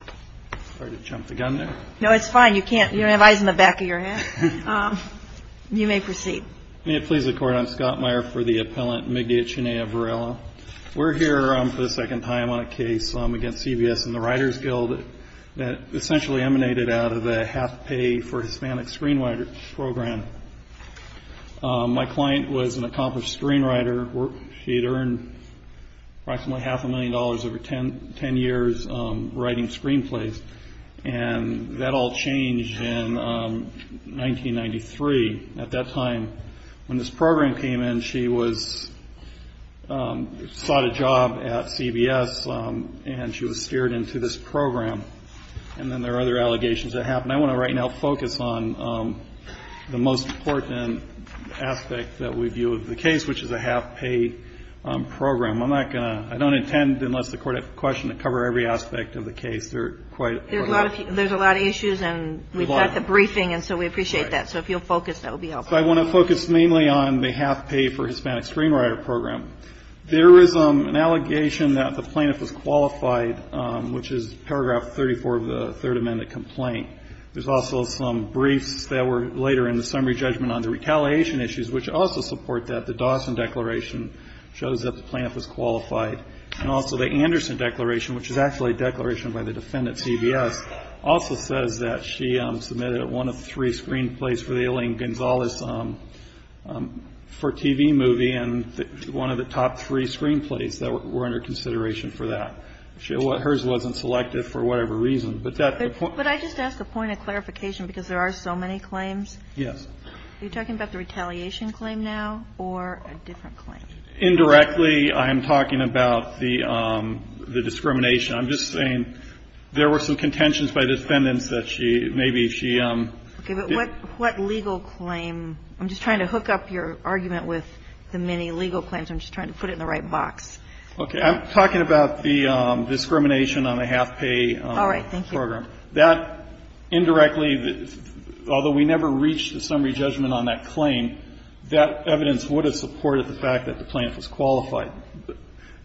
I'm sorry to jump the gun there. No, it's fine. You can't. You don't have eyes in the back of your head. You may proceed. May it please the Court, I'm Scott Meyer for the appellant Migdia Chinea-Varela. We're here for the second time on a case against CBS and the Writers Guild that essentially emanated out of the Half Pay for Hispanic Screenwriters program. My client was an accomplished screenwriter. She had earned approximately half a million dollars over 10 years writing screenplays. And that all changed in 1993. At that time, when this program came in, she was sought a job at CBS, and she was steered into this program. And then there are other allegations that happened. And I want to right now focus on the most important aspect that we view of the case, which is the Half Pay program. I'm not going to — I don't intend, unless the Court has a question, to cover every aspect of the case. There are quite a lot of — There's a lot of issues, and we've got the briefing, and so we appreciate that. So if you'll focus, that would be helpful. I want to focus mainly on the Half Pay for Hispanic Screenwriter program. There is an allegation that the plaintiff was qualified, which is paragraph 34 of the Third Amendment complaint. There's also some briefs that were later in the summary judgment on the retaliation issues, which also support that. The Dawson Declaration shows that the plaintiff was qualified. And also the Anderson Declaration, which is actually a declaration by the defendant, CBS, also says that she submitted one of three screenplays for the Elaine Gonzalez for TV movie, and one of the top three screenplays that were under consideration for that. Hers wasn't selected for whatever reason. But that — But I just ask a point of clarification, because there are so many claims. Yes. Are you talking about the retaliation claim now or a different claim? Indirectly, I am talking about the discrimination. I'm just saying there were some contentions by defendants that she — maybe she — Okay. But what legal claim — I'm just trying to hook up your argument with the many legal claims. I'm just trying to put it in the right box. Okay. I'm talking about the discrimination on the half-pay program. All right. Thank you. That indirectly, although we never reached a summary judgment on that claim, that evidence would have supported the fact that the plaintiff was qualified.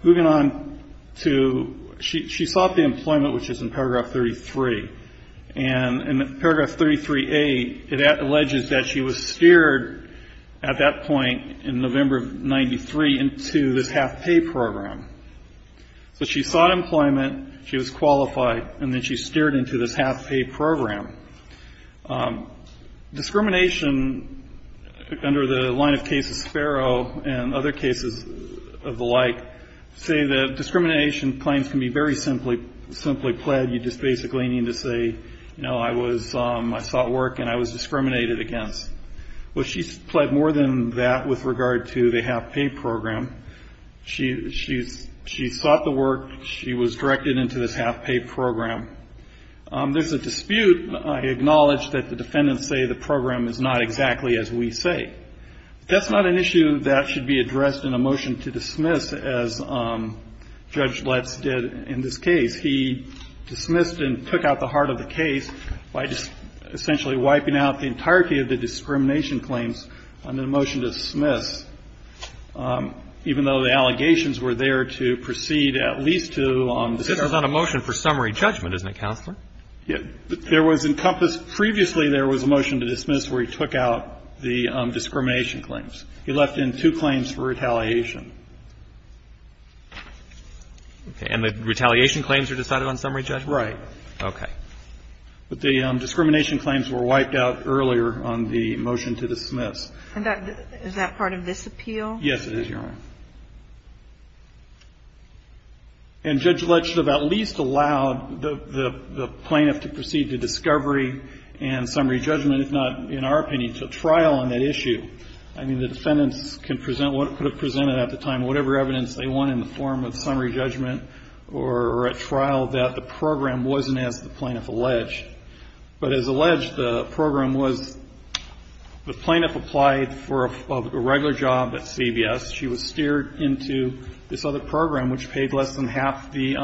Moving on to — she sought the employment, which is in paragraph 33. And in paragraph 33A, it alleges that she was steered at that point in November of 1993 into this half-pay program. So she sought employment, she was qualified, and then she steered into this half-pay program. Discrimination under the line of cases Sparrow and other cases of the like say that discrimination claims can be very simply pled. You just basically need to say, you know, I was — I sought work and I was discriminated against. Well, she pled more than that with regard to the half-pay program. She sought the work. She was directed into this half-pay program. There's a dispute. I acknowledge that the defendants say the program is not exactly as we say. That's not an issue that should be addressed in a motion to dismiss, as Judge Letts did in this case. He dismissed and took out the heart of the case by just essentially wiping out the entirety of the discrimination claims under the motion to dismiss, even though the allegations were there to proceed at least to — This is on a motion for summary judgment, isn't it, Counselor? Yeah. There was encompassed — previously there was a motion to dismiss where he took out the discrimination claims. He left in two claims for retaliation. Okay. And the retaliation claims are decided on summary judgment? Right. Okay. But the discrimination claims were wiped out earlier on the motion to dismiss. And is that part of this appeal? Yes, it is, Your Honor. And Judge Letts should have at least allowed the plaintiff to proceed to discovery and summary judgment, if not, in our opinion, to trial on that issue. I mean, the defendants can present what could have presented at the time whatever evidence they want in the form of summary judgment or at trial that the program wasn't, as the plaintiff alleged. But as alleged, the program was — the plaintiff applied for a regular job at CBS. She was steered into this other program, which paid less than half the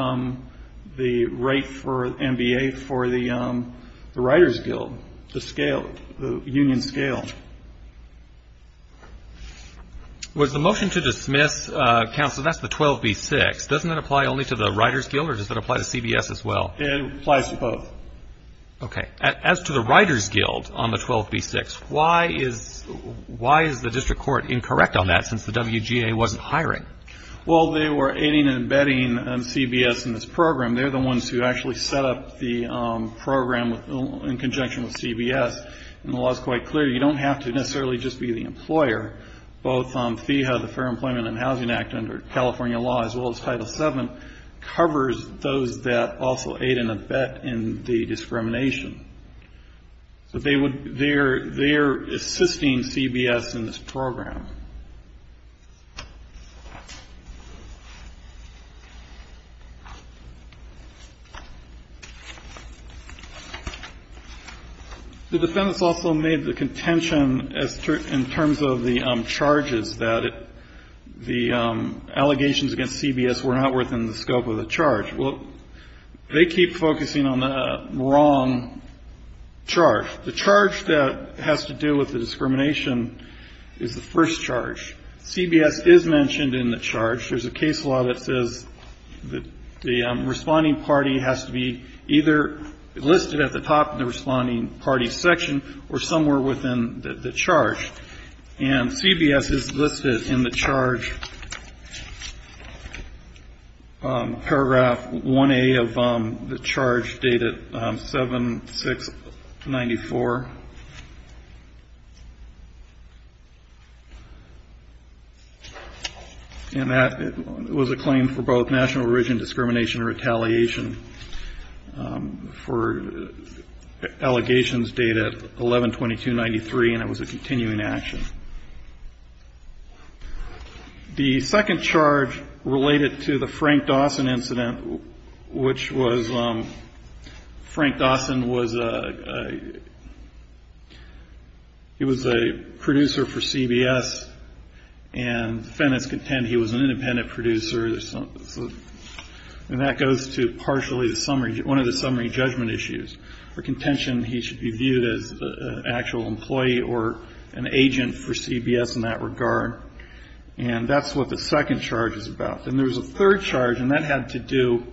rate for MBA for the Writers Guild, the scale, the union scale. Was the motion to dismiss, counsel, that's the 12b-6. Doesn't that apply only to the Writers Guild, or does that apply to CBS as well? It applies to both. Okay. As to the Writers Guild on the 12b-6, why is — why is the district court incorrect on that, since the WGA wasn't hiring? Well, they were aiding and abetting CBS in this program. They're the ones who actually set up the program in conjunction with CBS. And the law is quite clear. You don't have to necessarily just be the employer. Both FEHA, the Fair Employment and Housing Act, under California law, as well as Title VII, covers those that also aid and abet in the discrimination. So they would — they're assisting CBS in this program. The defendants also made the contention, in terms of the charges, that the allegations against CBS were not within the scope of the charge. Well, they keep focusing on the wrong charge. The charge that has to do with the discrimination is the first charge. CBS is mentioned in the charge. There's a case law that says that the responding party has to be either listed at the top of the responding party's section or somewhere within the charge. And CBS is listed in the charge, paragraph 1A of the charge, dated 7-6-94. And that was a claim for both national origin discrimination and retaliation, for allegations dated 11-22-93, and it was a continuing action. The second charge related to the Frank Dawson incident, which was — Frank Dawson was a — he was a producer for CBS, and defendants contend he was an independent producer. And that goes to partially the summary — one of the summary judgment issues. For contention, he should be viewed as an actual employee or an agent for CBS in that regard. And that's what the second charge is about. And there's a third charge, and that had to do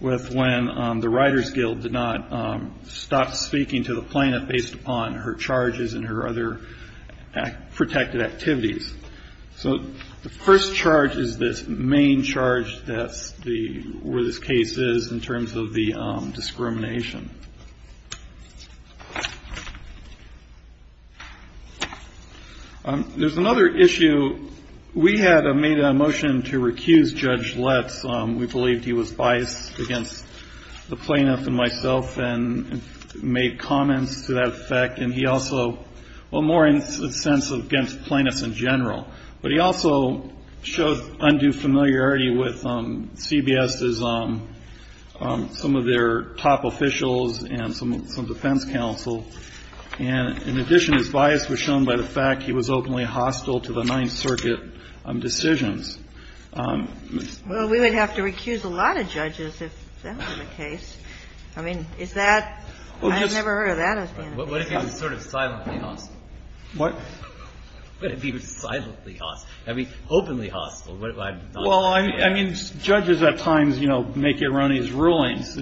with when the Writers Guild did not stop speaking to the plaintiff based upon her charges and her other protected activities. So the first charge is this main charge that's the — where this case is in terms of the discrimination. There's another issue. We had made a motion to recuse Judge Letts. We believed he was biased against the plaintiff and myself, and made comments to that effect. And he also — well, more in the sense of against plaintiffs in general. But he also showed undue familiarity with CBS's — some of their top officials and some defense counsel. And in addition, his bias was shown by the fact he was openly hostile to the Ninth Circuit decisions. Well, we would have to recuse a lot of judges if that were the case. I mean, is that — I've never heard of that. What if he was sort of silently hostile? What? What if he was silently hostile? I mean, openly hostile. Well, I mean, judges at times, you know, make erroneous rulings.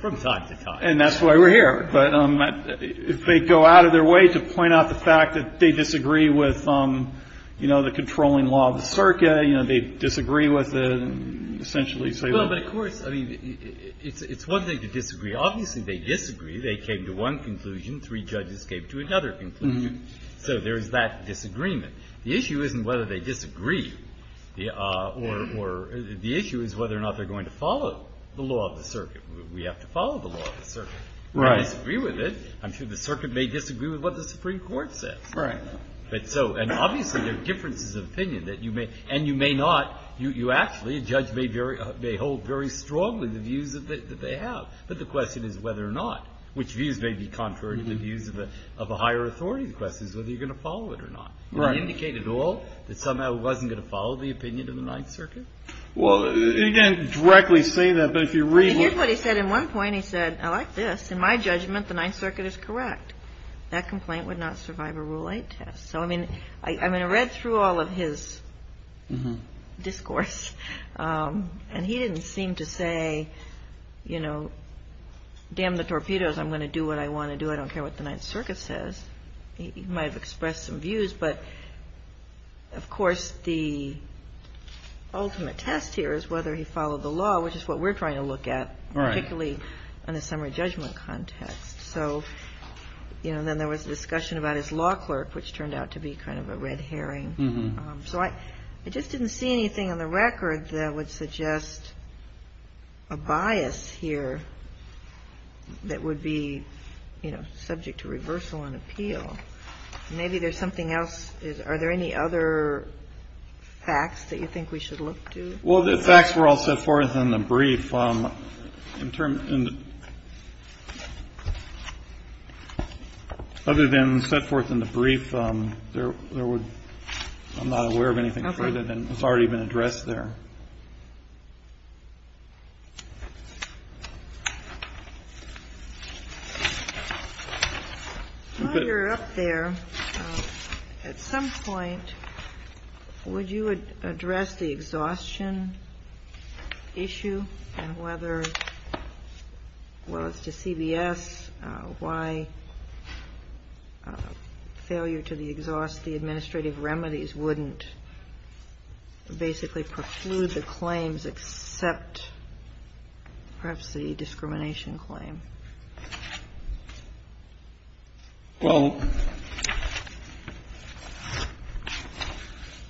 From time to time. And that's why we're here. But if they go out of their way to point out the fact that they disagree with, you know, the controlling law of the circuit, you know, they disagree with essentially say — Well, but of course, I mean, it's one thing to disagree. Obviously, they disagree. They came to one conclusion. Three judges came to another conclusion. So there is that disagreement. The issue isn't whether they disagree or — the issue is whether or not they're going to follow the law of the circuit. We have to follow the law of the circuit. Right. We disagree with it. I'm sure the circuit may disagree with what the Supreme Court says. Right. But so — and obviously, there are differences of opinion that you may — and you may not — you actually — a judge may hold very strongly the views that they have. But the question is whether or not — which views may be contrary to the views of a higher authority. The question is whether you're going to follow it or not. Right. Does that indicate at all that somehow it wasn't going to follow the opinion of the Ninth Circuit? Well, you can't directly say that. But if you read — Here's what he said. At one point, he said, I like this. In my judgment, the Ninth Circuit is correct. That complaint would not survive a Rule 8 test. So, I mean, I read through all of his discourse. And he didn't seem to say, you know, damn the torpedoes. I'm going to do what I want to do. I don't care what the Ninth Circuit says. He might have expressed some views. But, of course, the ultimate test here is whether he followed the law, which is what we're trying to look at. Right. Particularly in a summary judgment context. So, you know, then there was a discussion about his law clerk, which turned out to be kind of a red herring. So I just didn't see anything on the record that would suggest a bias here that would be, you know, subject to reversal and appeal. Maybe there's something else. Are there any other facts that you think we should look to? Well, the facts were all set forth in the brief. Other than set forth in the brief, I'm not aware of anything further than has already been addressed there. While you're up there, at some point, would you address the exhaustion issue and whether, well, as to CBS, why failure to exhaust the administrative Perhaps the discrimination claim. Well,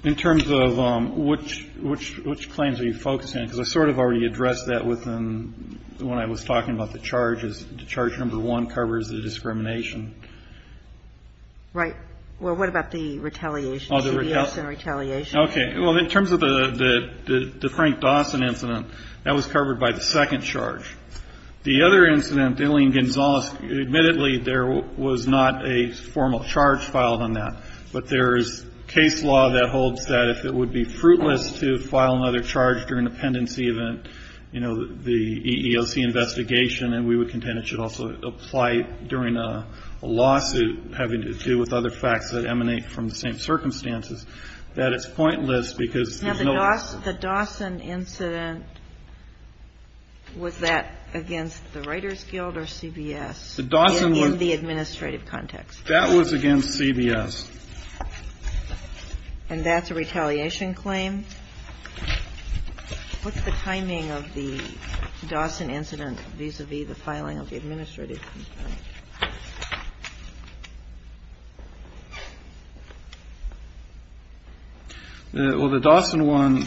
in terms of which claims are you focusing on? Because I sort of already addressed that when I was talking about the charges. The charge number one covers the discrimination. Right. Well, what about the retaliation, CBS and retaliation? Okay. Well, in terms of the Frank Dawson incident, that was covered by the second charge. The other incident, Dillion-Gonzalez, admittedly, there was not a formal charge filed on that. But there is case law that holds that if it would be fruitless to file another charge during a pendency event, you know, the EEOC investigation, and we would contend it should also apply during a lawsuit having to do with other facts that emanate from the same circumstances, that it's pointless because there's no. Now, the Dawson incident, was that against the Writers Guild or CBS in the administrative context? That was against CBS. And that's a retaliation claim? What's the timing of the Dawson incident vis-a-vis the filing of the administrative complaint? Well, the Dawson one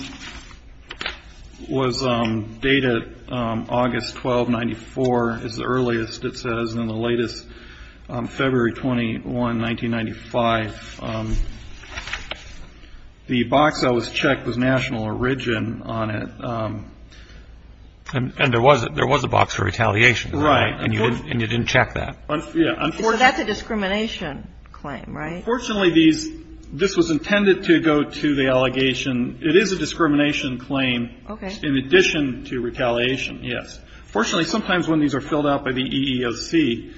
was dated August 12, 1994, is the earliest, it says, and the latest, February 21, 1995. The box that was checked was national origin on it. And there was a box for retaliation, right? Right. And you didn't check that? Yeah. Well, that's a discrimination claim, right? Unfortunately, this was intended to go to the allegation. It is a discrimination claim. Okay. In addition to retaliation, yes. Fortunately, sometimes when these are filled out by the EEOC,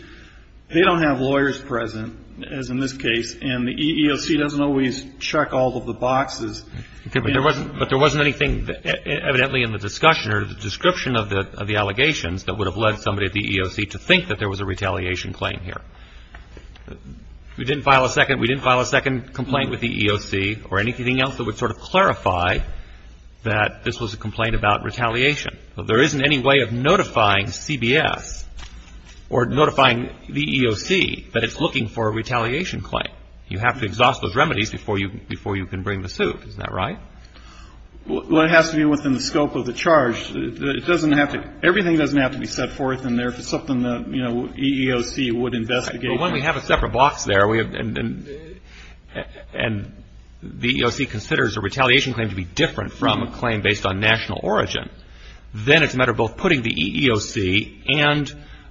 they don't have lawyers present, as in this case, and the EEOC doesn't always check all of the boxes. Okay. But there wasn't anything evidently in the discussion or the description of the allegations that would have led somebody at the EEOC to think that there was a retaliation claim here. We didn't file a second complaint with the EEOC or anything else that would sort of clarify that this was a complaint about retaliation. Well, there isn't any way of notifying CBS or notifying the EEOC that it's looking for a retaliation claim. You have to exhaust those remedies before you can bring the suit. Is that right? Well, it has to be within the scope of the charge. It doesn't have to – everything doesn't have to be set forth in there if it's something the EEOC would investigate. Well, when we have a separate box there and the EEOC considers a retaliation claim to be different from a claim based on national origin, then it's a matter of both putting the EEOC and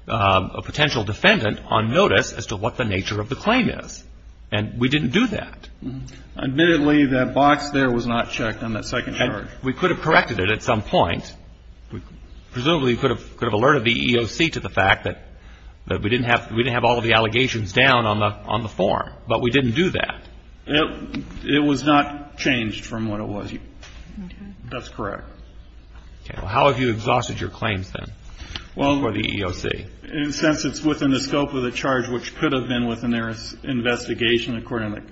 a potential defendant on notice as to what the nature of the claim is. And we didn't do that. Admittedly, that box there was not checked on that second charge. And we could have corrected it at some point. Presumably, you could have alerted the EEOC to the fact that we didn't have all of the allegations down on the form. But we didn't do that. It was not changed from what it was. That's correct. Okay. Well, how have you exhausted your claims then for the EEOC? Well, in a sense, it's within the scope of the charge, which could have been within their investigation according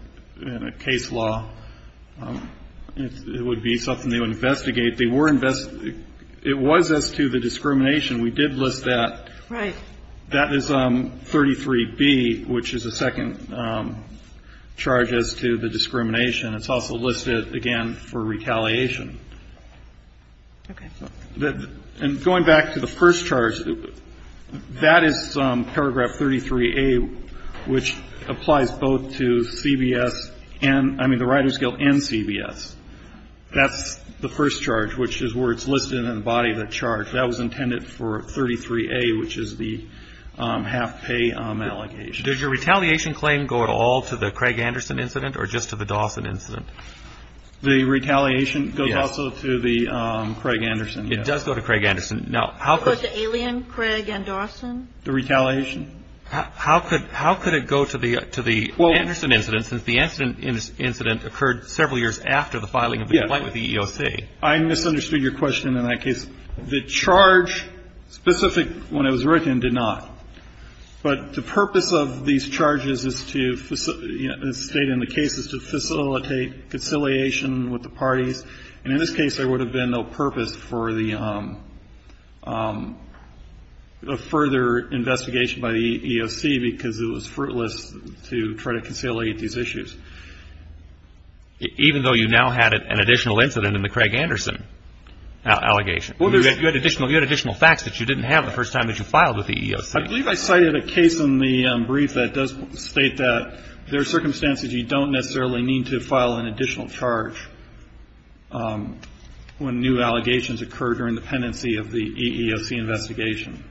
to case law. It would be something they would investigate. It was as to the discrimination. We did list that. Right. That is 33B, which is the second charge as to the discrimination. It's also listed, again, for retaliation. Okay. And going back to the first charge, that is paragraph 33A, which applies both to CBS and the Writers' Guild and CBS. That's the first charge, which is where it's listed in the body of the charge. That was intended for 33A, which is the half-pay allegation. Does your retaliation claim go at all to the Craig Anderson incident or just to the Dawson incident? The retaliation goes also to the Craig Anderson. It does go to Craig Anderson. It goes to Alien, Craig, and Dawson. The retaliation? How could it go to the Anderson incident since the Anderson incident occurred several years after the filing of the complaint with the EEOC? I misunderstood your question in that case. The charge specific when it was written did not. But the purpose of these charges is to, as stated in the case, is to facilitate conciliation with the parties. And in this case, there would have been no purpose for the further investigation by the EEOC because it was fruitless to try to conciliate these issues. Even though you now had an additional incident in the Craig Anderson allegation? You had additional facts that you didn't have the first time that you filed with the EEOC. I believe I cited a case in the brief that does state that there are circumstances you don't necessarily need to file an additional charge when new allegations occur during the pendency of the EEOC investigation.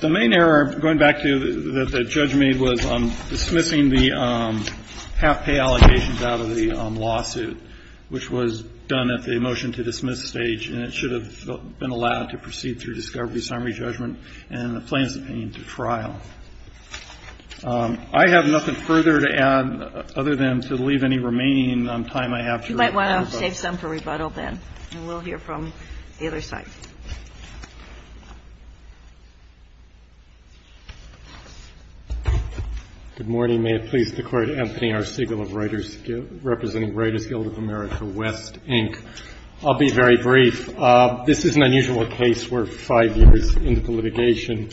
The main error, going back to that the judge made, was dismissing the half-pay allegations out of the lawsuit, which was done at the motion-to-dismiss stage. And it should have been allowed to proceed through discovery, summary judgment, and the plaintiff's opinion to trial. I have nothing further to add other than to leave any remaining time I have for rebuttal. You might want to save some for rebuttal, then. And we'll hear from the other side. Good morning. May it please the Court. Anthony R. Siegel of Reuters, representing Reuters Guild of America, West, Inc. I'll be very brief. This is an unusual case. We're five years into litigation.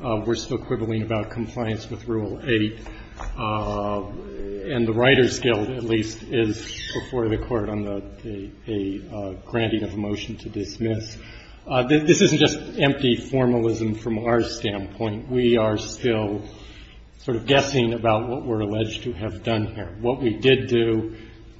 We're still quibbling about compliance with Rule 8. And the Writers Guild, at least, is before the Court on the granting of a motion to dismiss. This isn't just empty formalism from our standpoint. We are still sort of guessing about what we're alleged to have done here. What we did do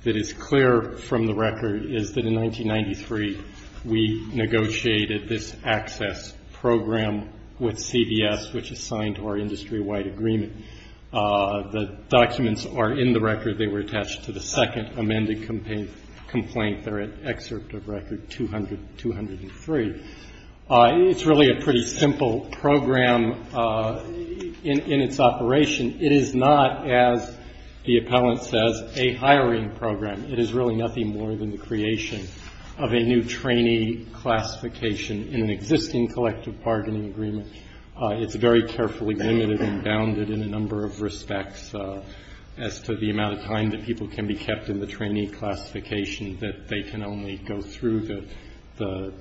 that is clear from the record is that, in 1993, we negotiated this access program with CBS, which is signed to our industry-wide agreement. The documents are in the record. They were attached to the second amended complaint. They're in Excerpt of Record 203. It's really a pretty simple program in its operation. It is not, as the appellant says, a hiring program. It is really nothing more than the creation of a new trainee classification in an existing collective bargaining agreement. It's very carefully limited and bounded in a number of respects as to the amount of time that people can be kept in the trainee classification, that they can only go through the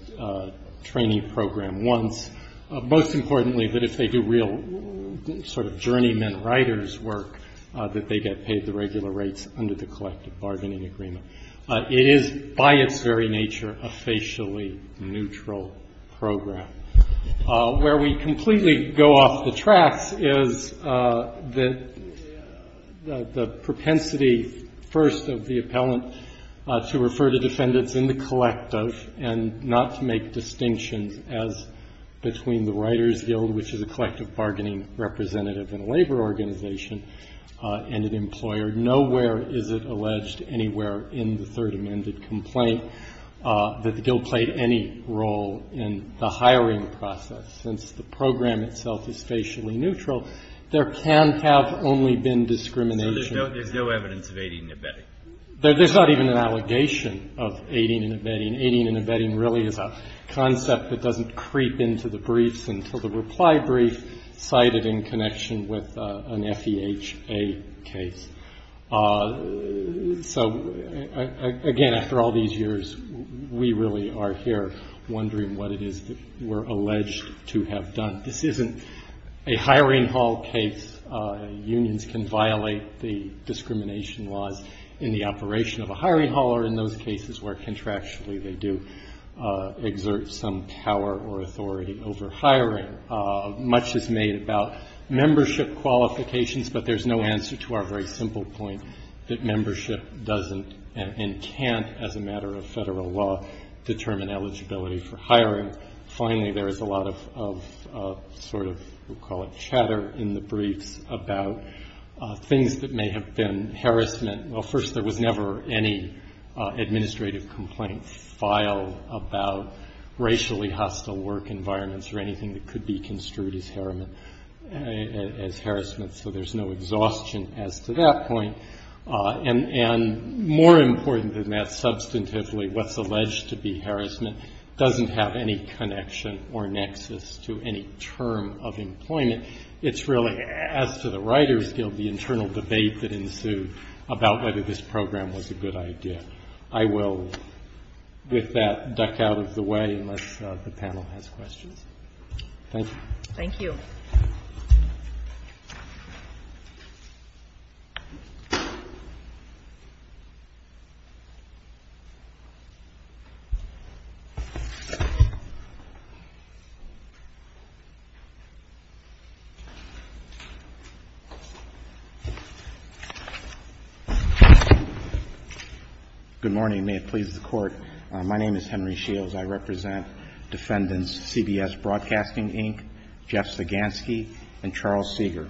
trainee program once. Most importantly, that if they do real sort of journeyman writer's work, that they get paid the regular rates under the collective bargaining agreement. It is, by its very nature, a facially neutral program. Where we completely go off the tracks is the propensity, first, of the appellant to refer to defendants in the collective and not to make distinctions as between the writer's guild, which is a collective bargaining representative in a labor organization, and an employer. Nowhere is it alleged anywhere in the third amended complaint that the guild played any role in the hiring process. Since the program itself is facially neutral, there can have only been discrimination. Breyer. So there's no evidence of aiding and abetting? There's not even an allegation of aiding and abetting. Aiding and abetting really is a concept that doesn't creep into the briefs until the reply brief, cited in connection with an FEHA case. So, again, after all these years, we really are here wondering what it is that we're alleged to have done. This isn't a hiring hall case. Unions can violate the discrimination laws in the operation of a hiring hall or in those cases where contractually they do exert some power or authority over hiring. Much is made about membership qualifications, but there's no answer to our very simple point that membership doesn't and can't, as a matter of federal law, determine eligibility for hiring. Finally, there is a lot of sort of we'll call it chatter in the briefs about things that may have been harassment. Well, first, there was never any administrative complaint filed about racially hostile work environments or anything that could be construed as harassment, so there's no exhaustion as to that point. And more important than that, substantively, what's alleged to be harassment doesn't have any connection or nexus to any term of employment. It's really, as to the writer's guild, the internal debate that ensued about whether this program was a good idea. I will, with that, duck out of the way unless the panel has questions. Thank you. Thank you. Good morning. May it please the Court. My name is Henry Shields. I represent Defendants CBS Broadcasting, Inc., Jeff Sagansky, and Charles Seeger.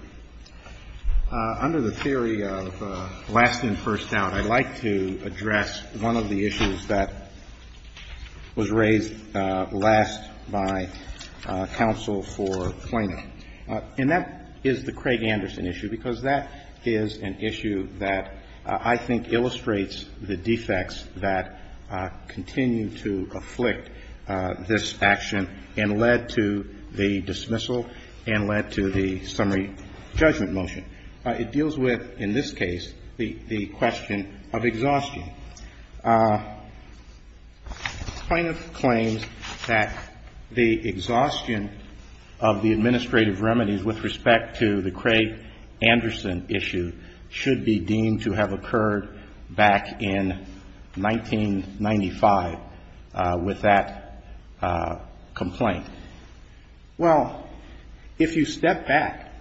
Under the theory of last in, first out, I'd like to address one of the issues that was raised last by counsel for Plano. And that is the Craig Anderson issue, because that is an issue that I think illustrates the defects that continue to afflict this action and led to the dismissal and led to the summary judgment motion. It deals with, in this case, the question of exhaustion. Plano claims that the exhaustion of the administrative remedies with respect to the Craig Anderson issue should be deemed to have occurred back in 1995 with that complaint. Well, if you step back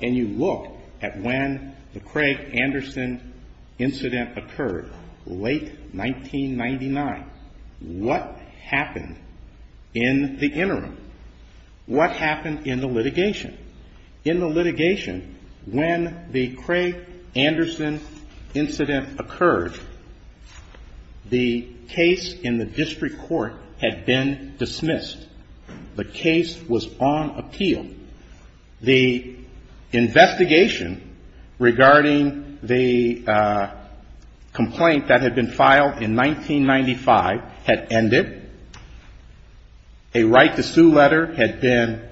and you look at when the Craig Anderson incident occurred late 1999, what happened in the interim? What happened in the litigation? In the litigation, when the Craig Anderson incident occurred, the case in the district court had been dismissed. The case was on appeal. The investigation regarding the complaint that had been filed in 1995 had ended. A right-to-sue letter had been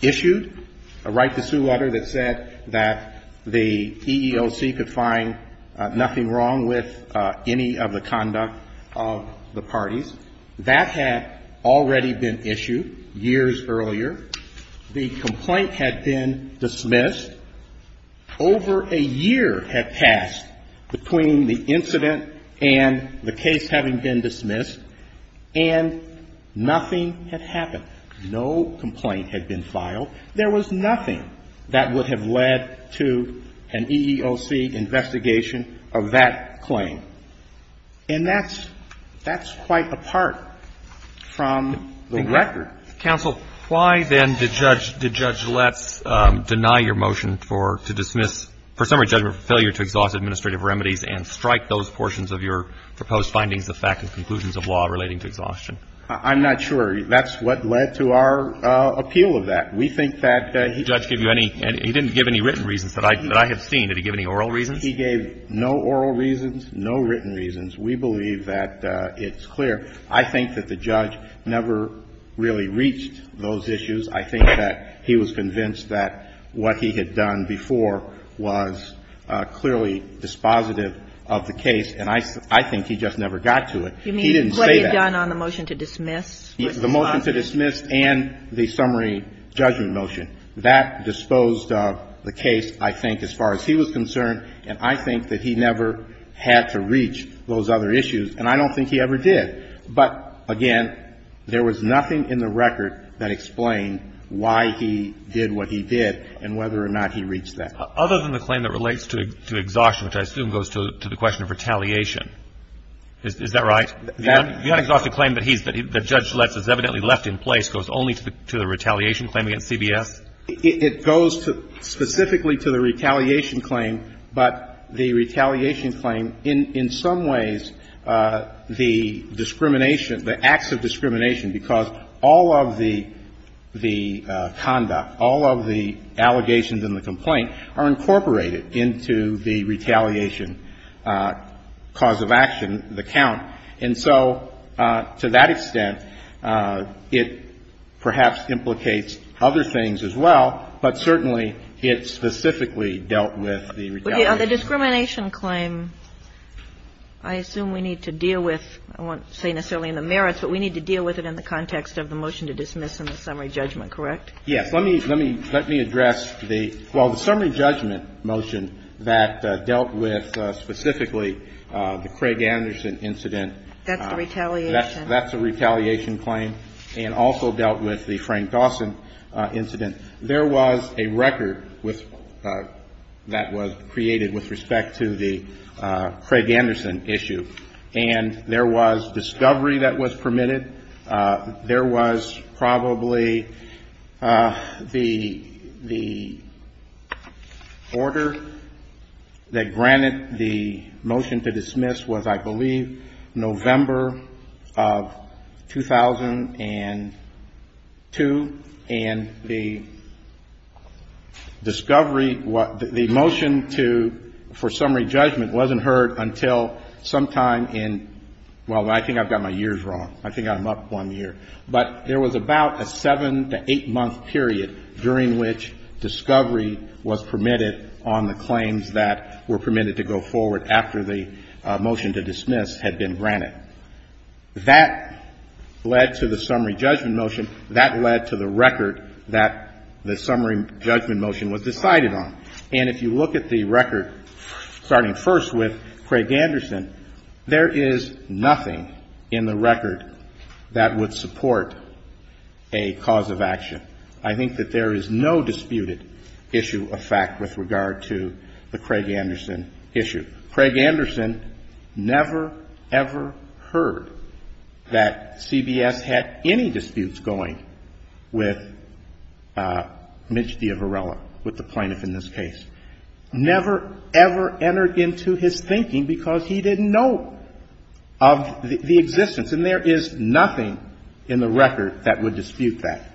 issued, a right-to-sue letter that said that the EEOC could find nothing wrong with any of the conduct of the parties. That had already been issued years earlier. The complaint had been dismissed. Over a year had passed between the incident and the case having been dismissed, and nothing had happened. No complaint had been filed. There was nothing that would have led to an EEOC investigation of that claim. And that's quite apart from the record. Counsel, why then did Judge Letts deny your motion to dismiss, for summary judgment, for failure to exhaust administrative remedies and strike those portions of your proposed findings of fact and conclusions of law relating to exhaustion? I'm not sure. That's what led to our appeal of that. We think that he didn't give any written reasons that I have seen. Did he give any oral reasons? He gave no oral reasons, no written reasons. We believe that it's clear. I think that the judge never really reached those issues. I think that he was convinced that what he had done before was clearly dispositive of the case, and I think he just never got to it. He didn't say that. You mean what he had done on the motion to dismiss? The motion to dismiss and the summary judgment motion, that disposed of the case, I think, as far as he was concerned, and I think that he never had to reach those other issues. And I don't think he ever did. But, again, there was nothing in the record that explained why he did what he did and whether or not he reached that. Other than the claim that relates to exhaustion, which I assume goes to the question of retaliation. Is that right? The unexhausted claim that he's been the judge has evidently left in place goes only to the retaliation claim against CBS? It goes specifically to the retaliation claim, but the retaliation claim, in some ways, the discrimination, the acts of discrimination, because all of the conduct, all of the allegations in the complaint, are incorporated into the retaliation cause of action, the count. And so to that extent, it perhaps implicates other things as well, but certainly it specifically dealt with the retaliation. The discrimination claim, I assume we need to deal with, I won't say necessarily in the merits, but we need to deal with it in the context of the motion to dismiss in the summary judgment, correct? Yes. Let me address the, well, the summary judgment motion that dealt with specifically the Craig Anderson incident. That's the retaliation. That's a retaliation claim and also dealt with the Frank Dawson incident. There was a record with, that was created with respect to the Craig Anderson issue, and there was discovery that was permitted. There was probably the, the order that granted the motion to dismiss was, I believe, November of 2002, and the discovery, the motion to, for summary judgment wasn't heard until sometime in, well, I think I've got my years wrong. I think I'm up one year. But there was about a seven to eight-month period during which discovery was permitted on the claims that were permitted to go forward after the motion to dismiss had been granted. That led to the summary judgment motion. That led to the record that the summary judgment motion was decided on. And if you look at the record starting first with Craig Anderson, there is nothing in the record that would support a cause of action. I think that there is no disputed issue of fact with regard to the Craig Anderson issue. Craig Anderson never, ever heard that CBS had any disputes going with Mitch D'Averella, with the plaintiff in this case. Never, ever entered into his thinking because he didn't know of the existence. And there is nothing in the record that would dispute that.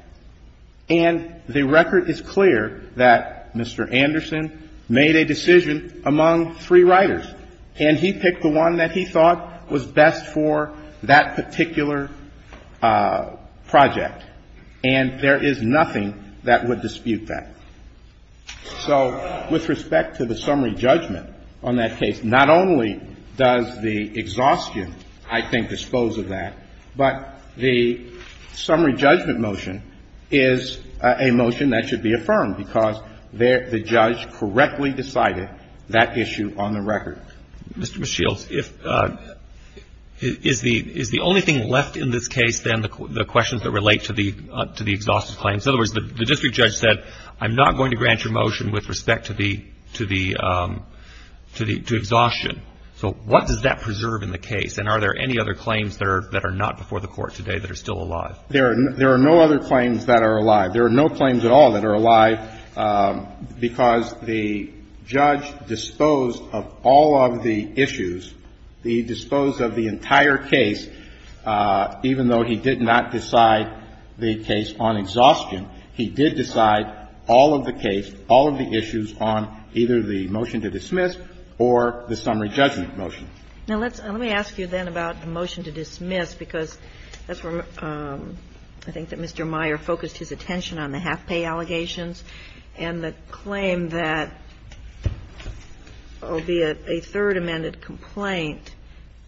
And the record is clear that Mr. Anderson made a decision among three writers, and he picked the one that he thought was best for that particular project. And there is nothing that would dispute that. So with respect to the summary judgment on that case, not only does the exhaustion, I think, dispose of that, but the summary judgment motion is a motion that should be affirmed because the judge correctly decided that issue on the record. Mr. Shields, is the only thing left in this case, then, the questions that relate to the exhaustion claims? In other words, the district judge said, I'm not going to grant your motion with respect to the exhaustion. So what does that preserve in the case? And are there any other claims that are not before the Court today that are still alive? There are no other claims that are alive. There are no claims at all that are alive because the judge disposed of all of the issues. He disposed of the entire case. Even though he did not decide the case on exhaustion, he did decide all of the case, all of the issues on either the motion to dismiss or the summary judgment motion. Now, let's ask you, then, about the motion to dismiss, because that's where I think that Mr. Meyer focused his attention on, the half-pay allegations and the claim that, albeit a third amended complaint,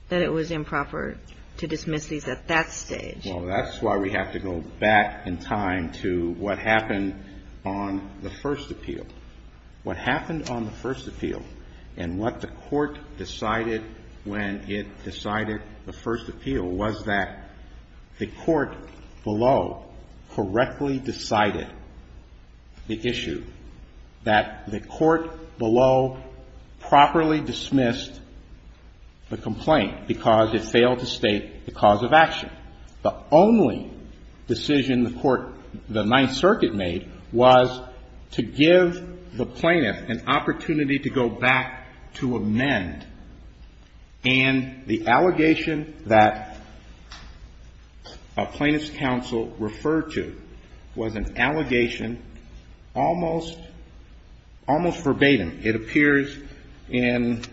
that it was improper to dismiss these at that stage. Well, that's why we have to go back in time to what happened on the first appeal. What happened on the first appeal and what the Court decided when it decided the first appeal was that the Court below correctly decided the issue, that the Court below properly dismissed the complaint because it failed to state the cause of action. And the only decision the Ninth Circuit made was to give the plaintiff an opportunity to go back to amend. And the allegation that a plaintiff's counsel referred to was an allegation almost verbatim. It appears in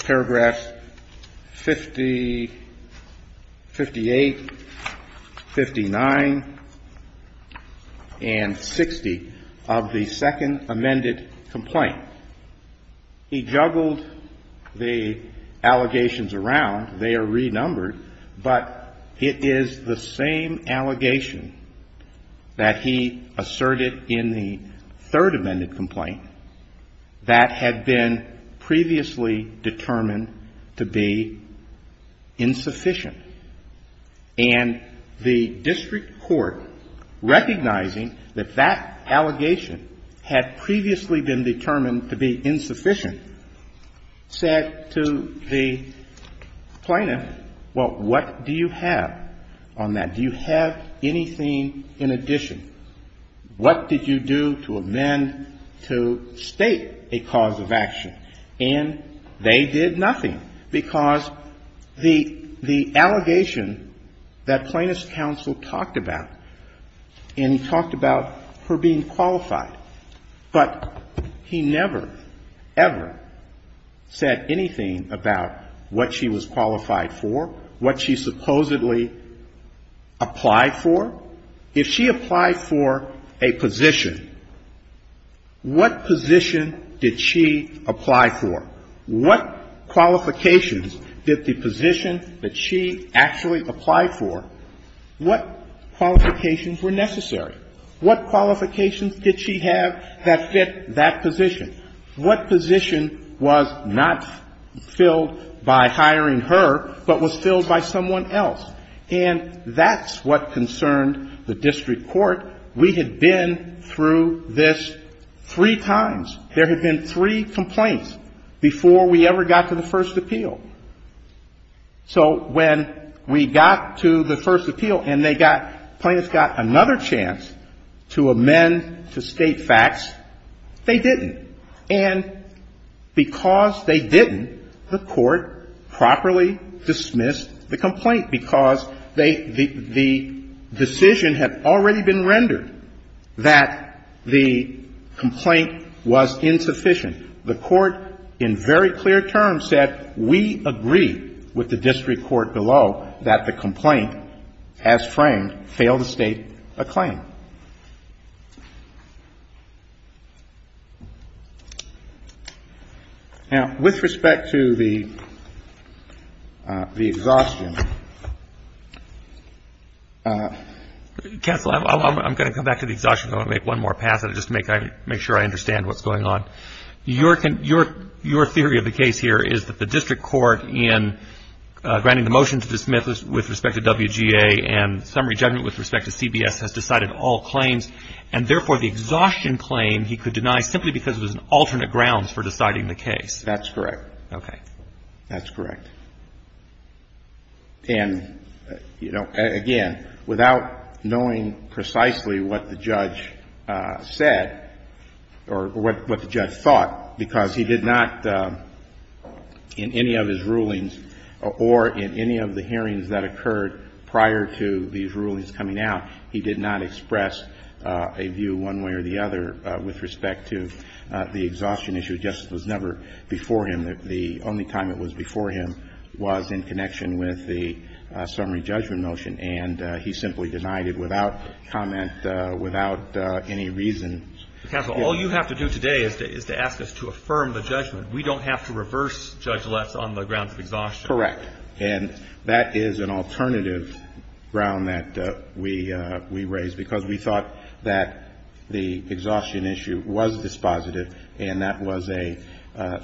paragraphs 58, 59, and 60 of the second amended complaint. He juggled the allegations around. They are renumbered. But it is the same allegation that he asserted in the third amended complaint that had been previously determined to be insufficient. And the district court, recognizing that that allegation had previously been determined to be insufficient, said to the plaintiff, well, what do you have on that? Do you have anything in addition? What did you do to amend to state a cause of action? And they did nothing because the allegation that plaintiff's counsel talked about, and he talked about her being qualified, but he never, ever said anything about what she was qualified for, what she supposedly applied for. If she applied for a position, what position did she apply for? What qualifications did the position that she actually applied for, what qualifications were necessary? What qualifications did she have that fit that position? What position was not filled by hiring her, but was filled by someone else? And that's what concerned the district court. We had been through this three times. There had been three complaints before we ever got to the first appeal. So when we got to the first appeal and they got, plaintiffs got another chance to amend to state facts, they didn't. And because they didn't, the court properly dismissed the complaint, because they the decision had already been rendered that the complaint was insufficient. The court in very clear terms said, we agree with the district court below that the complaint as framed failed to state a claim. Now, with respect to the exhaustion, counsel, I'm going to come back to the exhaustion and I'm going to make one more pass at it just to make sure I understand what's going on. Your theory of the case here is that the district court in granting the motion to dismiss And therefore, the exhaustion claim he could deny simply because it was an alternate grounds for deciding the case. That's correct. Okay. That's correct. And, you know, again, without knowing precisely what the judge said or what the judge thought, because he did not, in any of his rulings or in any of the hearings that occurred prior to these rulings coming out, he did not express a view one way or the other with respect to the exhaustion issue. Justice was never before him. The only time it was before him was in connection with the summary judgment motion. And he simply denied it without comment, without any reason. Counsel, all you have to do today is to ask us to affirm the judgment. We don't have to reverse judge left on the grounds of exhaustion. Correct. And that is an alternative ground that we raised because we thought that the exhaustion issue was dispositive and that was a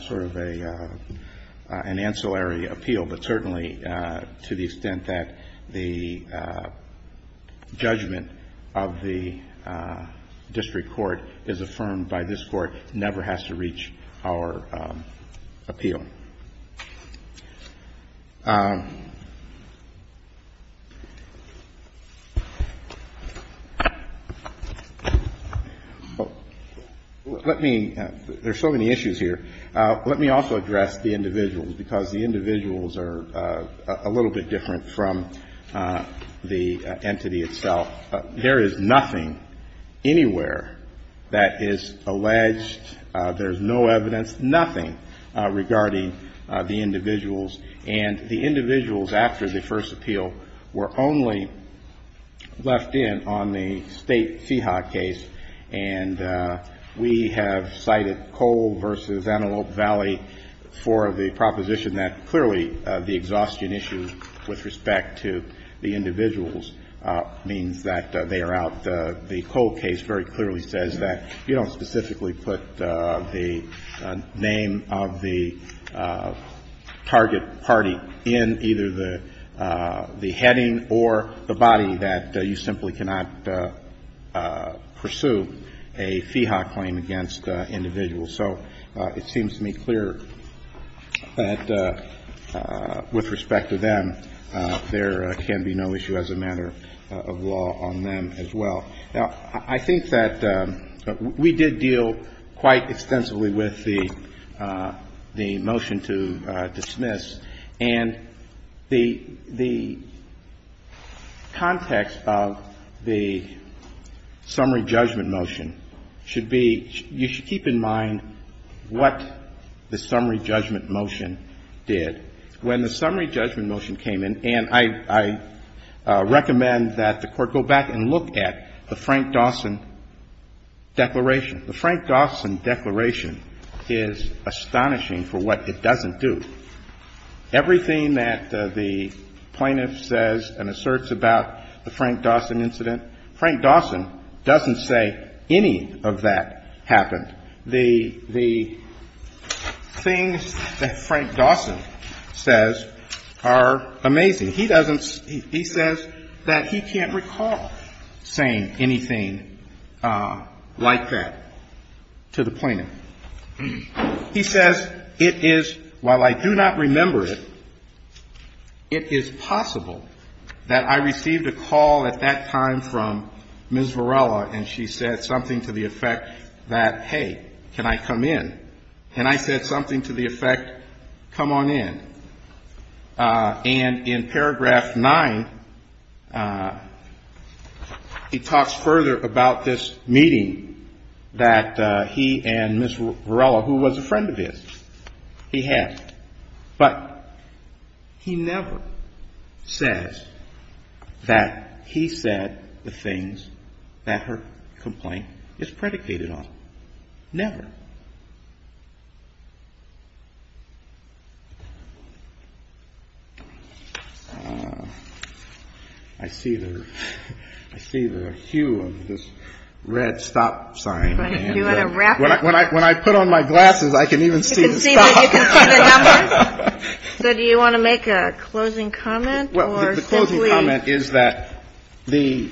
sort of an ancillary appeal, but certainly to the extent that the judgment of the district court is affirmed by this Court never has to reach our appeal. Let me – there are so many issues here. Let me also address the individuals, because the individuals are a little bit different from the entity itself. There is nothing anywhere that is alleged, there is no evidence, nothing regarding the individuals. And the individuals after the first appeal were only left in on the State FIHA case, and we have cited Cole v. Antelope Valley for the proposition that clearly the exhaustion issue with respect to the individuals means that they are out. The Cole case very clearly says that you don't specifically put the name of the target party in either the heading or the body, that you simply cannot pursue a FIHA claim against individuals. So it seems to me clear that with respect to them, there can be no issue as a matter of law on them as well. Now, I think that we did deal quite extensively with the motion to dismiss, and the context of the summary judgment motion should be – you should keep in mind what the summary judgment motion did. When the summary judgment motion came in, and I recommend that the Court go back and look at the Frank Dawson declaration. The Frank Dawson declaration is astonishing for what it doesn't do. Everything that the plaintiff says and asserts about the Frank Dawson incident, Frank Dawson doesn't say any of that happened. The things that Frank Dawson says are amazing. He doesn't – he says that he can't recall saying anything like that to the plaintiff. He says, it is – while I do not remember it, it is possible that I received a call at that time from Ms. Varela, and she said something to the effect that, hey, can I come in? And I said something to the effect, come on in. And in paragraph nine, he talks further about this meeting that he and Ms. Varela, who was a friend of his, he had. But he never says that he said the things that her complaint is predicated on. Never. I see the hue of this red stop sign. When I put on my glasses, I can even see the stop. So you can see the numbers? So do you want to make a closing comment or simply? The closing comment is that the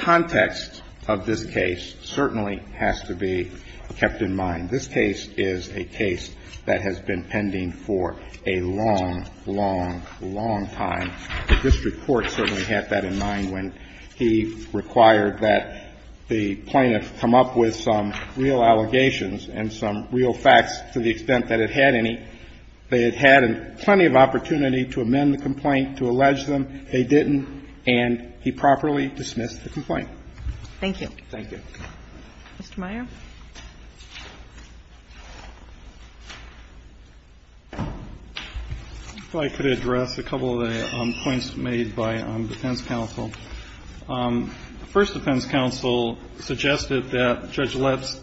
context of this case certainly has to be kept in mind. This case is a case that has been pending for a long, long, long time. The district court certainly had that in mind when he required that the plaintiff come up with some real allegations and some real facts to the extent that it had any. They had had plenty of opportunity to amend the complaint, to allege them. They didn't, and he properly dismissed the complaint. Thank you. Thank you. Mr. Meyer. If I could address a couple of the points made by defense counsel. The first defense counsel suggested that Judge Lips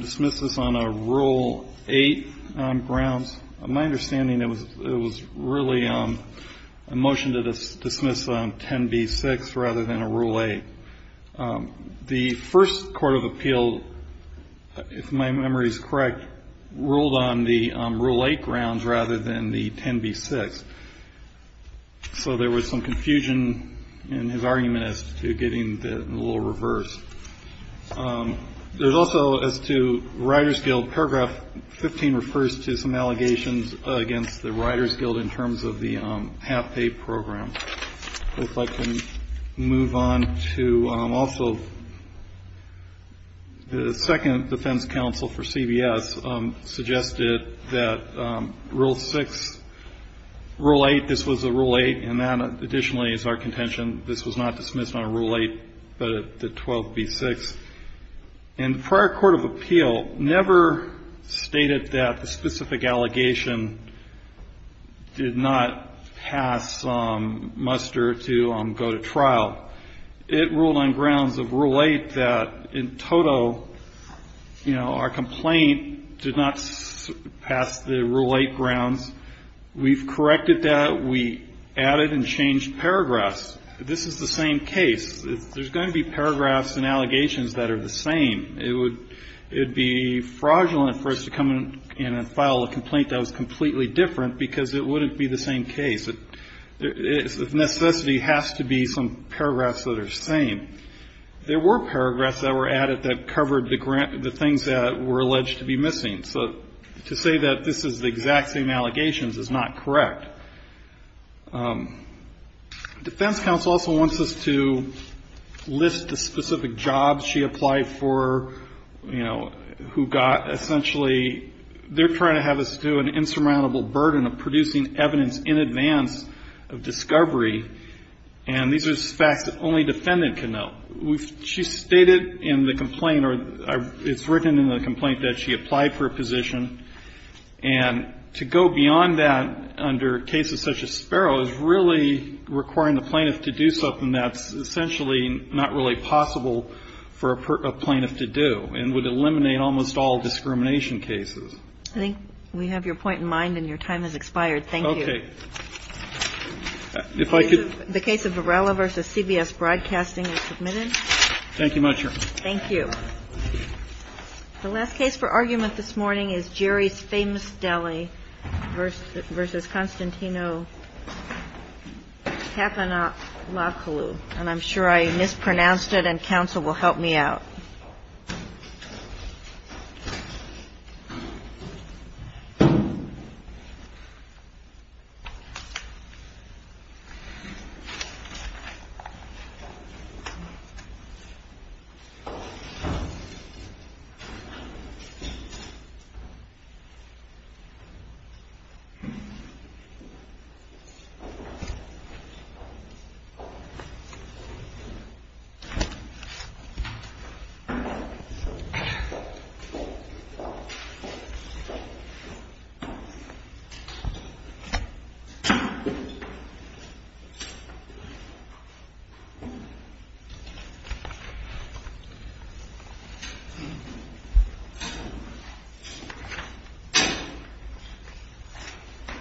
dismiss this on a rule 8 grounds. My understanding, it was really a motion to dismiss on 10B6 rather than a rule 8. The first court of appeal, if my memory is correct, ruled on the rule 8 grounds rather than the 10B6. So there was some confusion in his argument as to getting the rule reversed. There's also, as to Riders Guild, paragraph 15 refers to some allegations against the Riders Guild in terms of the half-pay program. If I can move on to also the second defense counsel for CBS suggested that rule 6, rule 8, this was a rule 8, and that additionally is our contention, this was not dismissed on a rule 8 but the 12B6. And the prior court of appeal never stated that the specific allegation did not pass Muster to go to trial. It ruled on grounds of rule 8 that in total, you know, our complaint did not pass the rule 8 grounds. We've corrected that. We added and changed paragraphs. This is the same case. There's going to be paragraphs and allegations that are the same. It would be fraudulent for us to come in and file a complaint that was completely different because it wouldn't be the same case. The necessity has to be some paragraphs that are the same. There were paragraphs that were added that covered the things that were alleged to be missing. So to say that this is the exact same allegations is not correct. Defense counsel also wants us to list the specific jobs she applied for, you know, who got essentially they're trying to have us do an insurmountable burden of producing evidence in advance of discovery, and these are facts that only defendant can know. She stated in the complaint or it's written in the complaint that she applied for a position, and to go beyond that under cases such as Sparrow is really requiring the plaintiff to do something that's essentially not really possible for a plaintiff to do and would eliminate almost all discrimination cases. I think we have your point in mind and your time has expired. Thank you. Okay. If I could. The case of Varela v. CBS Broadcasting is submitted. Thank you, Madam Chair. Thank you. The last case for argument this morning is Jerry's Famous Deli v. Constantino Tapanakallu, and I'm sure I mispronounced it and counsel will help me out. Jerry's Famous Deli. Thank you.